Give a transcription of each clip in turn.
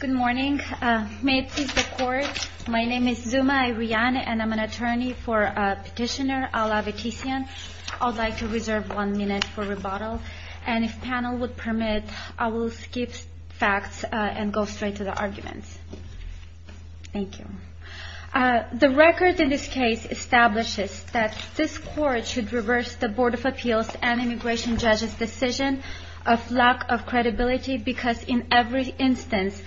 Good morning. May it please the Court, my name is Zuma Iryani and I'm an attorney for Petitioner Ala Vetisyan. I would like to reserve one minute for rebuttal and if the panel would permit, I will skip facts and go straight to the arguments. Thank you. The record in this case establishes that this Court should reverse the Board of Appeals and Immigration Judges' decision of lack of credibility because in every instance...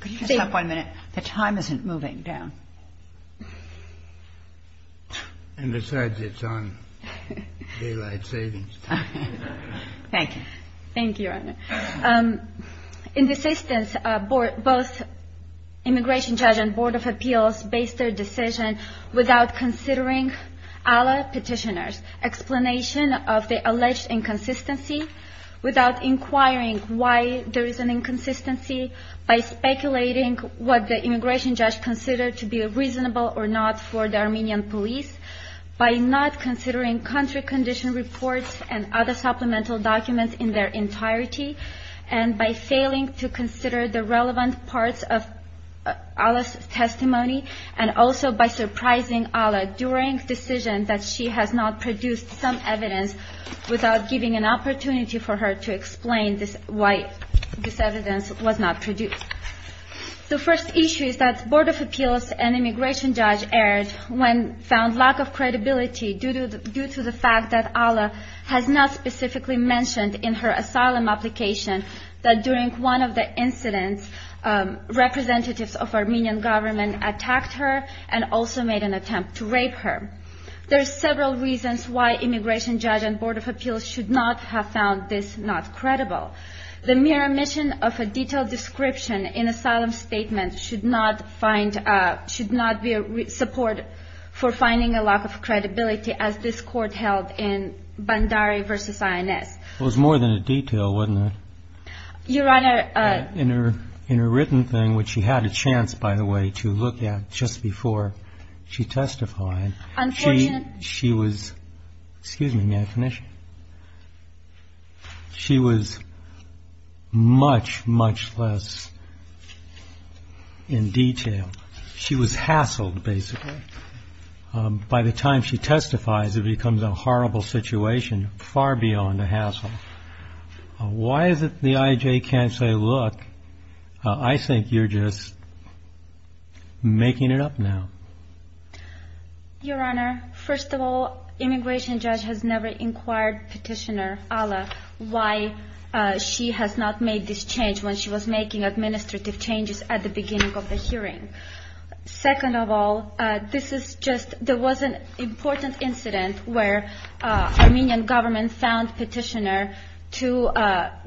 Could you just have one minute? The time isn't moving down. And besides, it's on daylight savings. Thank you. Thank you, Your Honor. In this instance, both Immigration Judge and Board of Appeals based their decision without considering Ala Petitioner's explanation of the alleged inconsistency, without inquiring why there is an inconsistency, by speculating what the Immigration Judge considered to be reasonable or not for the Armenian police, by not considering country condition reports and other supplemental documents in their entirety, and by failing to consider the relevant parts of Ala's testimony, and also by surprising Ala during the decision that she has not produced some evidence without giving an opportunity for her to explain why this evidence was not produced. The first issue is that the Board of Appeals and Immigration Judge erred when it found lack of credibility due to the fact that Ala has not specifically mentioned in her asylum application that during one of the incidents, representatives of Armenian government attacked her and also made an attempt to rape her. There are several reasons why Immigration Judge and Board of Appeals should not have found this not credible. The mere omission of a detailed description in asylum statement should not be a support for finding a lack of credibility as this court held in Bandari v. INS. It was more than a detail, wasn't it? In her written thing, which she had a chance, by the way, to look at just before she testified, she was much, much less in detail. She was hassled, basically. By the time she testifies, it becomes a horrible situation, far beyond a hassle. Why is it the IJ can't say, look, I think you're just making it up now? Your Honor, first of all, Immigration Judge has never inquired Petitioner Ala why she has not made this change when she was making administrative changes at the beginning of the hearing. Second of all, there was an important incident where Armenian government found Petitioner to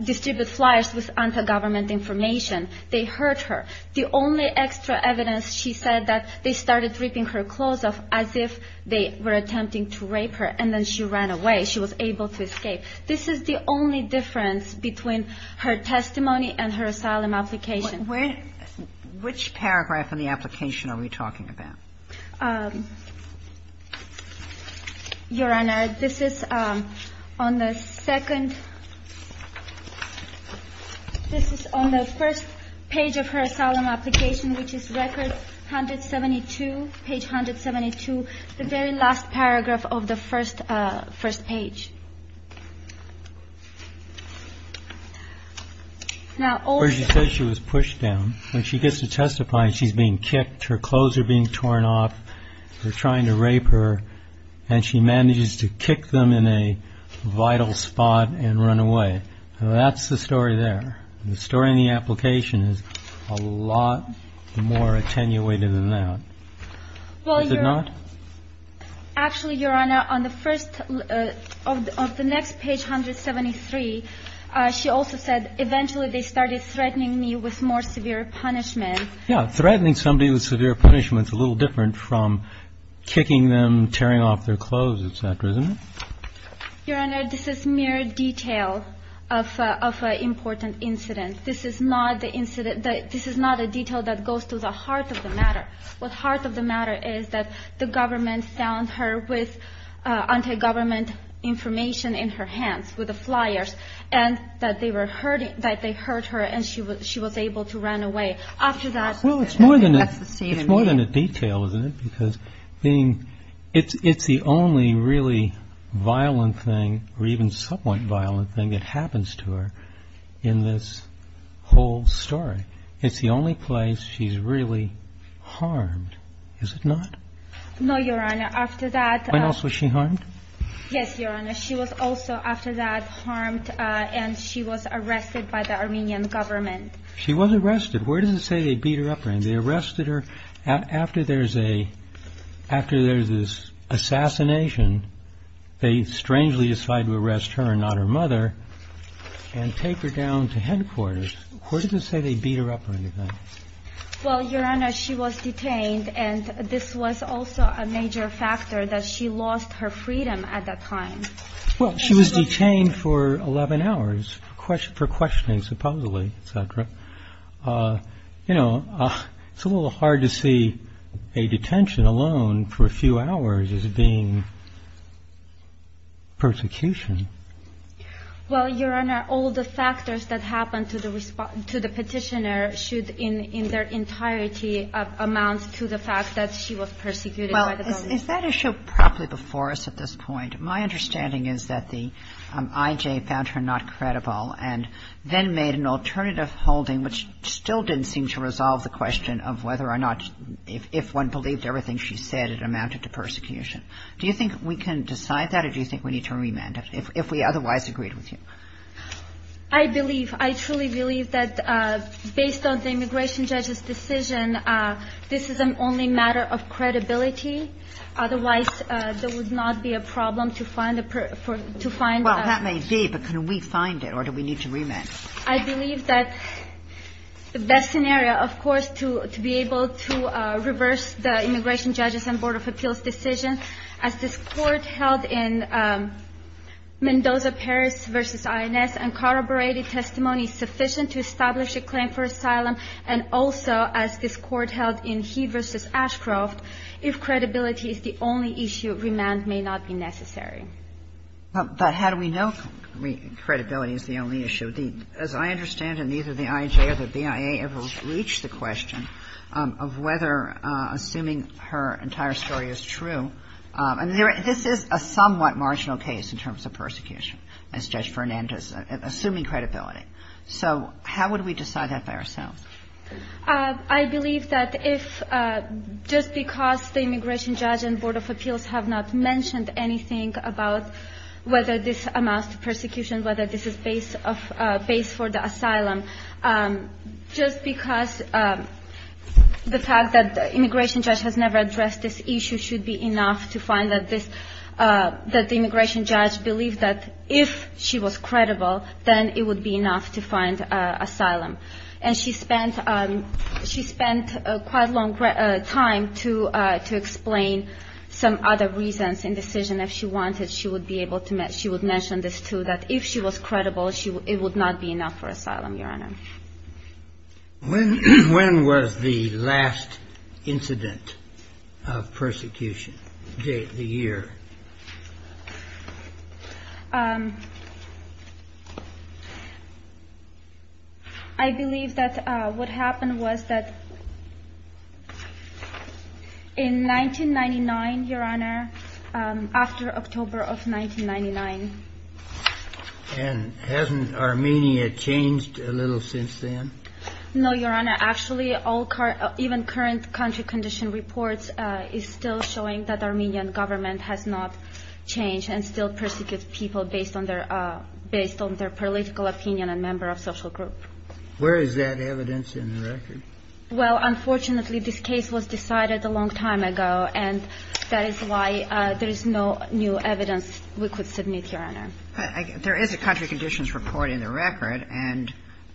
distribute flyers with anti-government information. They heard her. The only extra evidence she said that they started ripping her clothes off as if they were attempting to rape her, and then she ran away. She was able to escape. This is the only difference between her testimony and her asylum application. Which paragraph in the application are we talking about? Your Honor, this is on the second. This is on the first page of her asylum application, which is record 172, page 172, the very last paragraph of the first page. She says she was pushed down. When she gets to testify, she's being kicked. Her clothes are being torn off. They're trying to rape her, and she manages to kick them in a vital spot and run away. That's the story there. The story in the application is a lot more attenuated than that. Is it not? Actually, Your Honor, on the first of the next page, 173, she also said eventually they started threatening me with more severe punishment. Yes. Threatening somebody with severe punishment is a little different from kicking them, tearing off their clothes, et cetera, isn't it? Your Honor, this is mere detail of an important incident. This is not the incident. This is not a detail that goes to the heart of the matter. What's heart of the matter is that the government found her with anti-government information in her hands, with the flyers, and that they heard her and she was able to run away. After that, that's the state of it. Well, it's more than a detail, isn't it? Because it's the only really violent thing, or even somewhat violent thing, that happens to her in this whole story. It's the only place she's really harmed, is it not? No, Your Honor. After that... When else was she harmed? Yes, Your Honor. She was also after that harmed and she was arrested by the Armenian government. She was arrested. Where does it say they beat her up? They arrested her after there's this assassination. They strangely decided to arrest her and not her mother and take her down to headquarters. Where does it say they beat her up or anything? Well, Your Honor, she was detained and this was also a major factor that she lost her freedom at that time. Well, she was detained for 11 hours for questioning, supposedly, etc. You know, it's a little hard to see a detention alone for a few hours as being persecution. Well, Your Honor, all the factors that happen to the petitioner should in their entirety amount to the fact that she was persecuted by the government. Well, is that issue properly before us at this point? My understanding is that the I.J. found her not credible and then made an alternative holding which still didn't seem to resolve the question of whether or not if one believed everything she said it amounted to persecution. Do you think we can decide that or do you think we need to remand it? If we otherwise agreed with you. I believe, I truly believe that based on the immigration judge's decision, this is an only matter of credibility. Otherwise, there would not be a problem to find a per to find a Well, that may be, but can we find it or do we need to remand? I believe that the best scenario, of course, to be able to reverse the immigration judge's and Board of Appeals decision as this Court held in Mendoza-Paris v. INS and corroborated testimony sufficient to establish a claim for asylum and also as this Court held in Heath v. Ashcroft, if credibility is the only issue, remand may not be necessary. But how do we know credibility is the only issue? As I understand it, neither the I.J. or the BIA ever reached the question of whether assuming her entire story is true. And this is a somewhat marginal case in terms of persecution, as Judge Fernandez, assuming credibility. So how would we decide that by ourselves? I believe that if just because the immigration judge and Board of Appeals have not mentioned anything about whether this amounts to persecution, whether this is base for the asylum, just because the fact that the immigration judge has never addressed this issue should be enough to find that the immigration judge believed that if she was credible, then it would be enough to find asylum. And she spent quite a long time to explain some other reasons in the decision. If she wanted, she would mention this too, that if she was credible, it would not be enough for asylum, Your Honor. When was the last incident of persecution, the year? I believe that what happened was that in 1999, Your Honor, after October of 1999. And hasn't Armenia changed a little since then? No, Your Honor. Actually, even current country condition reports is still showing that Armenian government has not changed and still persecutes people based on their political opinion and member of social group. Where is that evidence in the record? Well, unfortunately, this case was decided a long time ago, and that is why there is no new evidence we could submit, Your Honor. There is a country conditions report in the record, and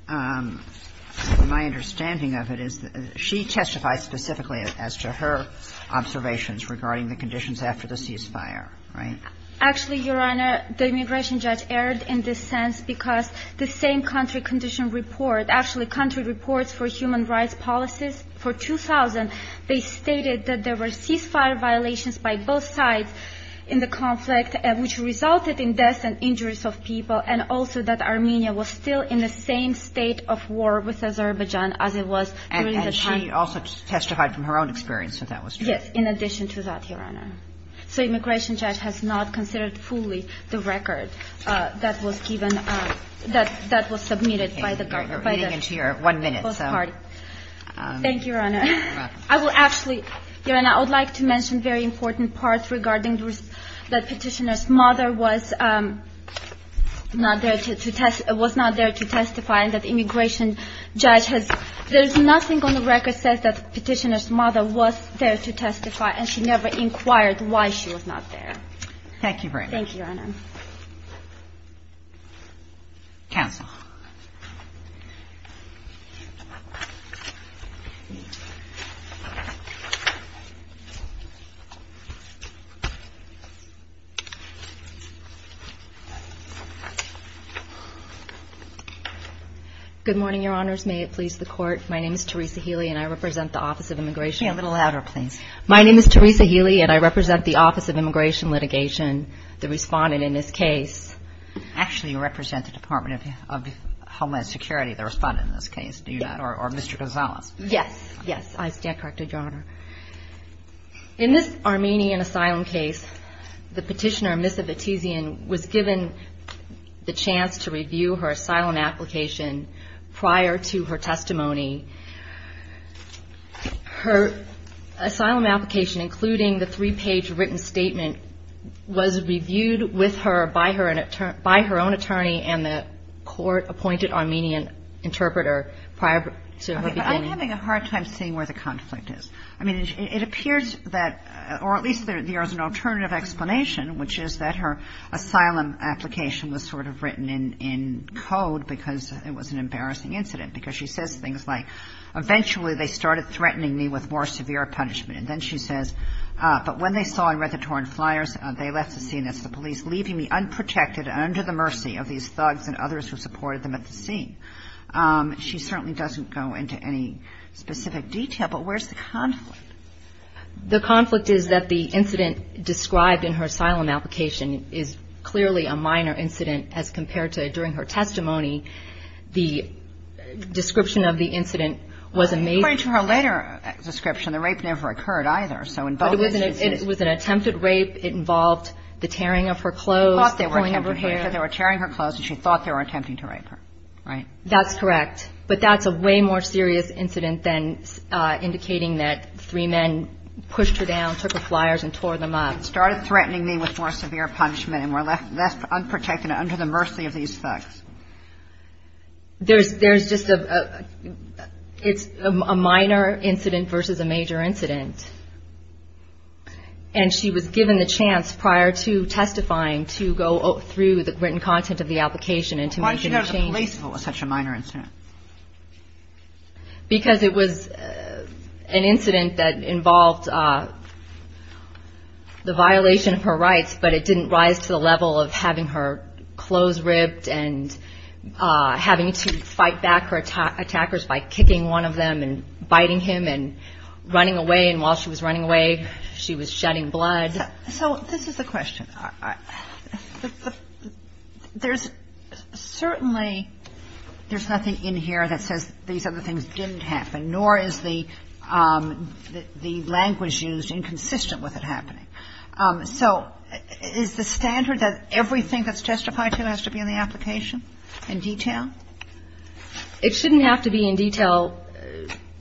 my understanding of it is that she testified specifically as to her observations regarding the conditions after the ceasefire, right? Actually, Your Honor, the immigration judge erred in this sense because the same country condition report, actually country reports for human rights policies for 2000, they stated that there were ceasefire violations by both sides in the conflict, which resulted in deaths and injuries of people, and also that Armenia was still in the same state of war with Azerbaijan as it was during the time. And she also testified from her own experience that that was true. Yes, in addition to that, Your Honor. So immigration judge has not considered fully the record that was given, that was submitted by the government. Thank you, Your Honor. You're welcome. I will actually, Your Honor, I would like to mention very important parts regarding the petitioner's mother was not there to testify and that the immigration judge has – there is nothing on the record that says that the petitioner's mother was there to testify, and she never inquired why she was not there. Thank you very much. Thank you, Your Honor. Counsel. Good morning, Your Honors. May it please the Court. My name is Teresa Healy, and I represent the Office of Immigration. Say it a little louder, please. My name is Teresa Healy, and I represent the Office of Immigration Litigation, the respondent in this case. Actually, you represent the Department of Homeland Security, the respondent in this case. Or Mr. Gonzalez? Yes. Yes. I represent the Department of Homeland Security. I stand corrected, Your Honor. In this Armenian asylum case, the petitioner, Ms. Abitizian, was given the chance to review her asylum application prior to her testimony. Her asylum application, including the three-page written statement, was reviewed with her by her own attorney and the court-appointed Armenian interpreter prior to her beginning. I'm having a hard time seeing where the conflict is. I mean, it appears that, or at least there is an alternative explanation, which is that her asylum application was sort of written in code because it was an embarrassing incident. Because she says things like, eventually they started threatening me with more severe punishment. And then she says, but when they saw and read the torn flyers, they left the scene as the police, leaving me unprotected and under the mercy of these thugs and others who supported them at the scene. She certainly doesn't go into any specific detail. But where's the conflict? The conflict is that the incident described in her asylum application is clearly a minor incident as compared to during her testimony. The description of the incident was a major. According to her later description, the rape never occurred either. So in both instances. It was an attempted rape. It involved the tearing of her clothes. She thought they were attempting to rape her. They were tearing her clothes and she thought they were attempting to rape her. Right. That's correct. But that's a way more serious incident than indicating that three men pushed her down, took her flyers and tore them up. Started threatening me with more severe punishment and were left unprotected and under the mercy of these thugs. There's just a minor incident versus a major incident. And she was given the chance prior to testifying to go through the written content of the application and to make a change. How can you be relaceful with such a minor incident? Because it was an incident that involved the violation of her rights, but it didn't rise to the level of having her clothes ripped and having to fight back her attackers by kicking one of them and biting him and running away. And while she was running away, she was shedding blood. So this is the question. Certainly there's nothing in here that says these other things didn't happen, nor is the language used inconsistent with it happening. So is the standard that everything that's testified to has to be in the application in detail? It shouldn't have to be in detail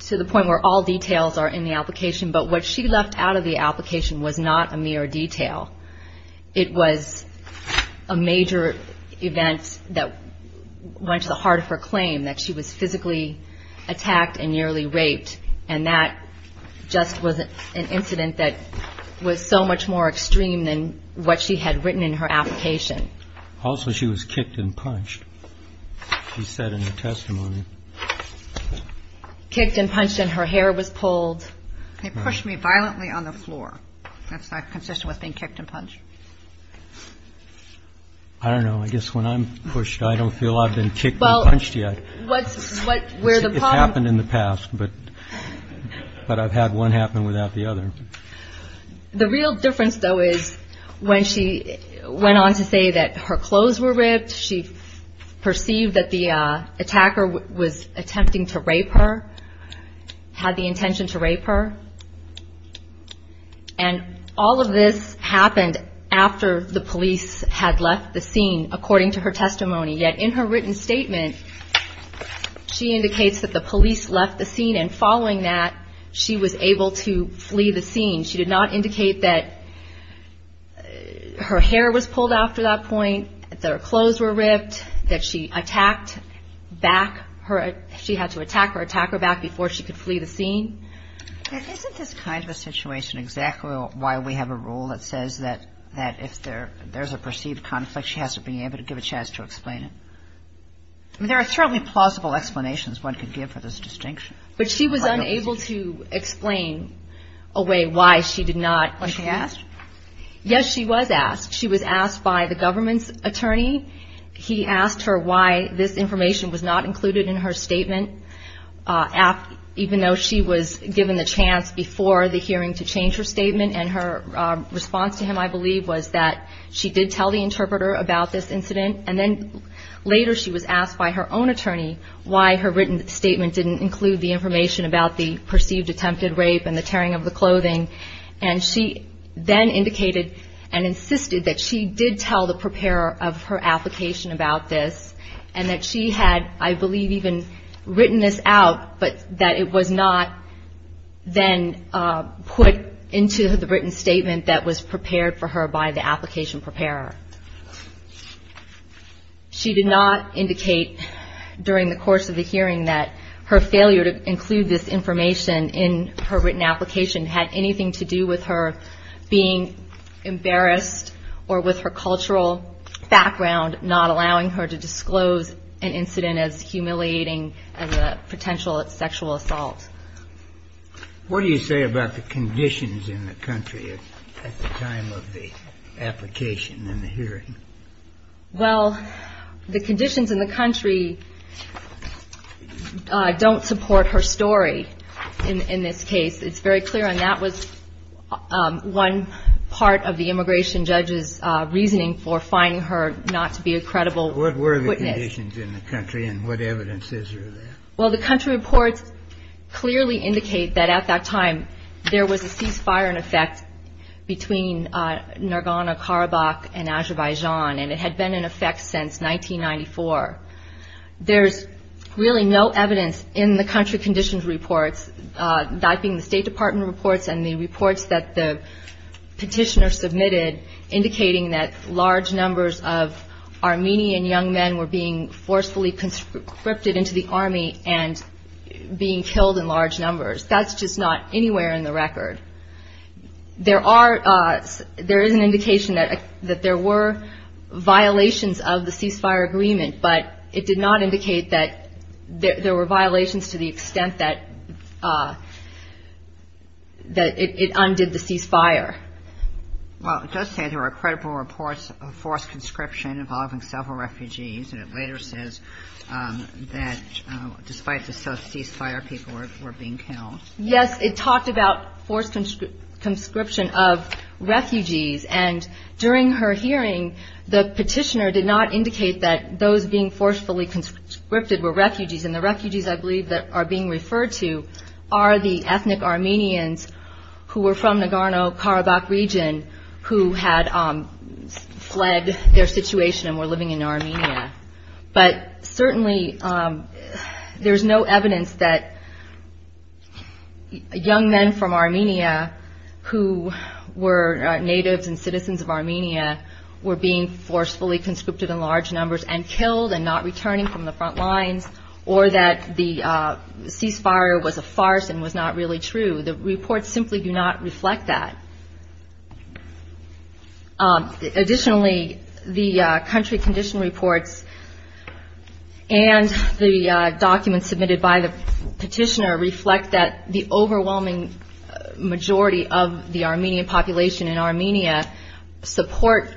to the point where all details are in the application, but what she left out of the application was not a mere detail. It was a major event that went to the heart of her claim, that she was physically attacked and nearly raped, and that just was an incident that was so much more extreme than what she had written in her application. Also, she was kicked and punched, she said in her testimony. Kicked and punched, and her hair was pulled. They pushed me violently on the floor. That's not consistent with being kicked and punched. I don't know. I guess when I'm pushed, I don't feel I've been kicked and punched yet. It's happened in the past, but I've had one happen without the other. The real difference, though, is when she went on to say that her clothes were ripped, she perceived that the attacker was attempting to rape her, had the intention to rape her. And all of this happened after the police had left the scene, according to her testimony. Yet in her written statement, she indicates that the police left the scene, and following that, she was able to flee the scene. She did not indicate that her hair was pulled after that point, that her clothes were ripped, that she had to attack her attacker back before she could flee the scene. Isn't this kind of a situation exactly why we have a rule that says that if there's a perceived conflict, she has to be able to give a chance to explain it? I mean, there are certainly plausible explanations one could give for this distinction. But she was unable to explain away why she did not. Was she asked? Yes, she was asked. She was asked by the government's attorney. He asked her why this information was not included in her statement, even though she was given the chance before the hearing to change her statement. And her response to him, I believe, was that she did tell the interpreter about this incident. And then later she was asked by her own attorney why her written statement didn't include the information about the perceived attempted rape and the tearing of the clothing. And she then indicated and insisted that she did tell the preparer of her application about this, and that she had, I believe, even written this out, but that it was not then put into the written statement that was prepared for her by the application preparer. She did not indicate during the course of the hearing that her failure to include this information in her written application had anything to do with her being embarrassed or with her cultural background not allowing her to disclose an incident as humiliating as a potential sexual assault. What do you say about the conditions in the country at the time of the application and the hearing? Well, the conditions in the country don't support her story in this case. It's very clear, and that was one part of the immigration judge's reasoning for finding her not to be a credible witness. What were the conditions in the country, and what evidence is there of that? Well, the country reports clearly indicate that at that time there was a ceasefire in effect between Nargona, Karabakh, and Azerbaijan, and it had been in effect since 1994. There's really no evidence in the country conditions reports, that being the State Department reports and the reports that the petitioner submitted indicating that large numbers of Armenian young men were being forcefully conscripted into the army and being killed in large numbers. That's just not anywhere in the record. There is an indication that there were violations of the ceasefire agreement, but it did not indicate that there were violations to the extent that it undid the ceasefire. Well, it does say there were credible reports of forced conscription involving several refugees, and it later says that despite the ceasefire, people were being killed. Yes, it talked about forced conscription of refugees, and during her hearing, the petitioner did not indicate that those being forcefully conscripted were refugees, and the refugees I believe that are being referred to are the ethnic Armenians who were from Nagorno-Karabakh region who had fled their situation and were living in Armenia. But certainly there's no evidence that young men from Armenia who were natives and citizens of Armenia were being forcefully conscripted in large numbers and killed and not returning from the front lines, or that the ceasefire was a farce and was not really true. The reports simply do not reflect that. Additionally, the country condition reports and the documents submitted by the petitioner reflect that the overwhelming majority of the Armenian population in Armenia support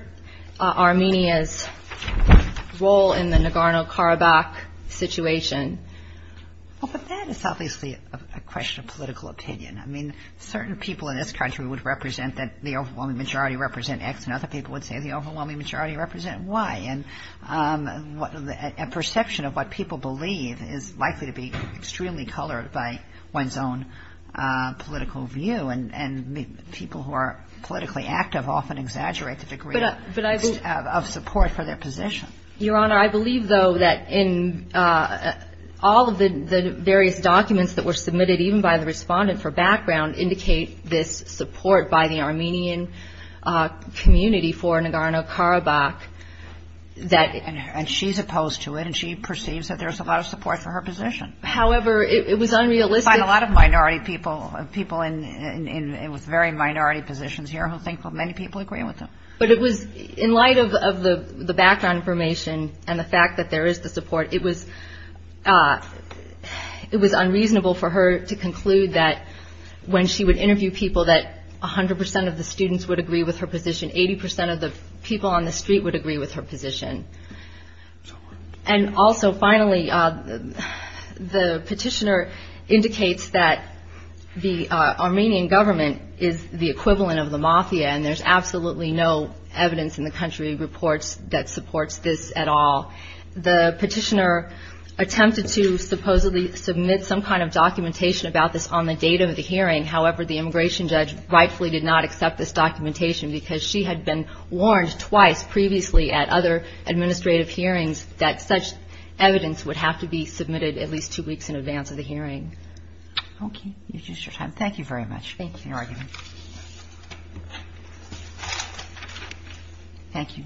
Armenia's role in the Nagorno-Karabakh situation. Well, but that is obviously a question of political opinion. I mean, certain people in this country would represent that the overwhelming majority represent X, and other people would say the overwhelming majority represent Y. And a perception of what people believe is likely to be extremely colored by one's own political view, and people who are politically active often exaggerate the degree of support for their position. Your Honor, I believe, though, that in all of the various documents that were submitted, even by the respondent for background, indicate this support by the Armenian community for Nagorno-Karabakh. And she's opposed to it, and she perceives that there's a lot of support for her position. However, it was unrealistic. We find a lot of minority people, people with very minority positions here, who think many people agree with them. But it was in light of the background information and the fact that there is the support, it was unreasonable for her to conclude that when she would interview people, that 100 percent of the students would agree with her position, 80 percent of the people on the street would agree with her position. And also, finally, the petitioner indicates that the Armenian government is the equivalent of the mafia, and there's absolutely no evidence in the country reports that supports this at all. The petitioner attempted to supposedly submit some kind of documentation about this on the date of the hearing. However, the immigration judge rightfully did not accept this documentation because she had been warned twice previously at other administrative hearings that such evidence would have to be submitted at least two weeks in advance of the hearing. Okay, you've used your time. Thank you very much for your argument. Thank you.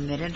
Thank you.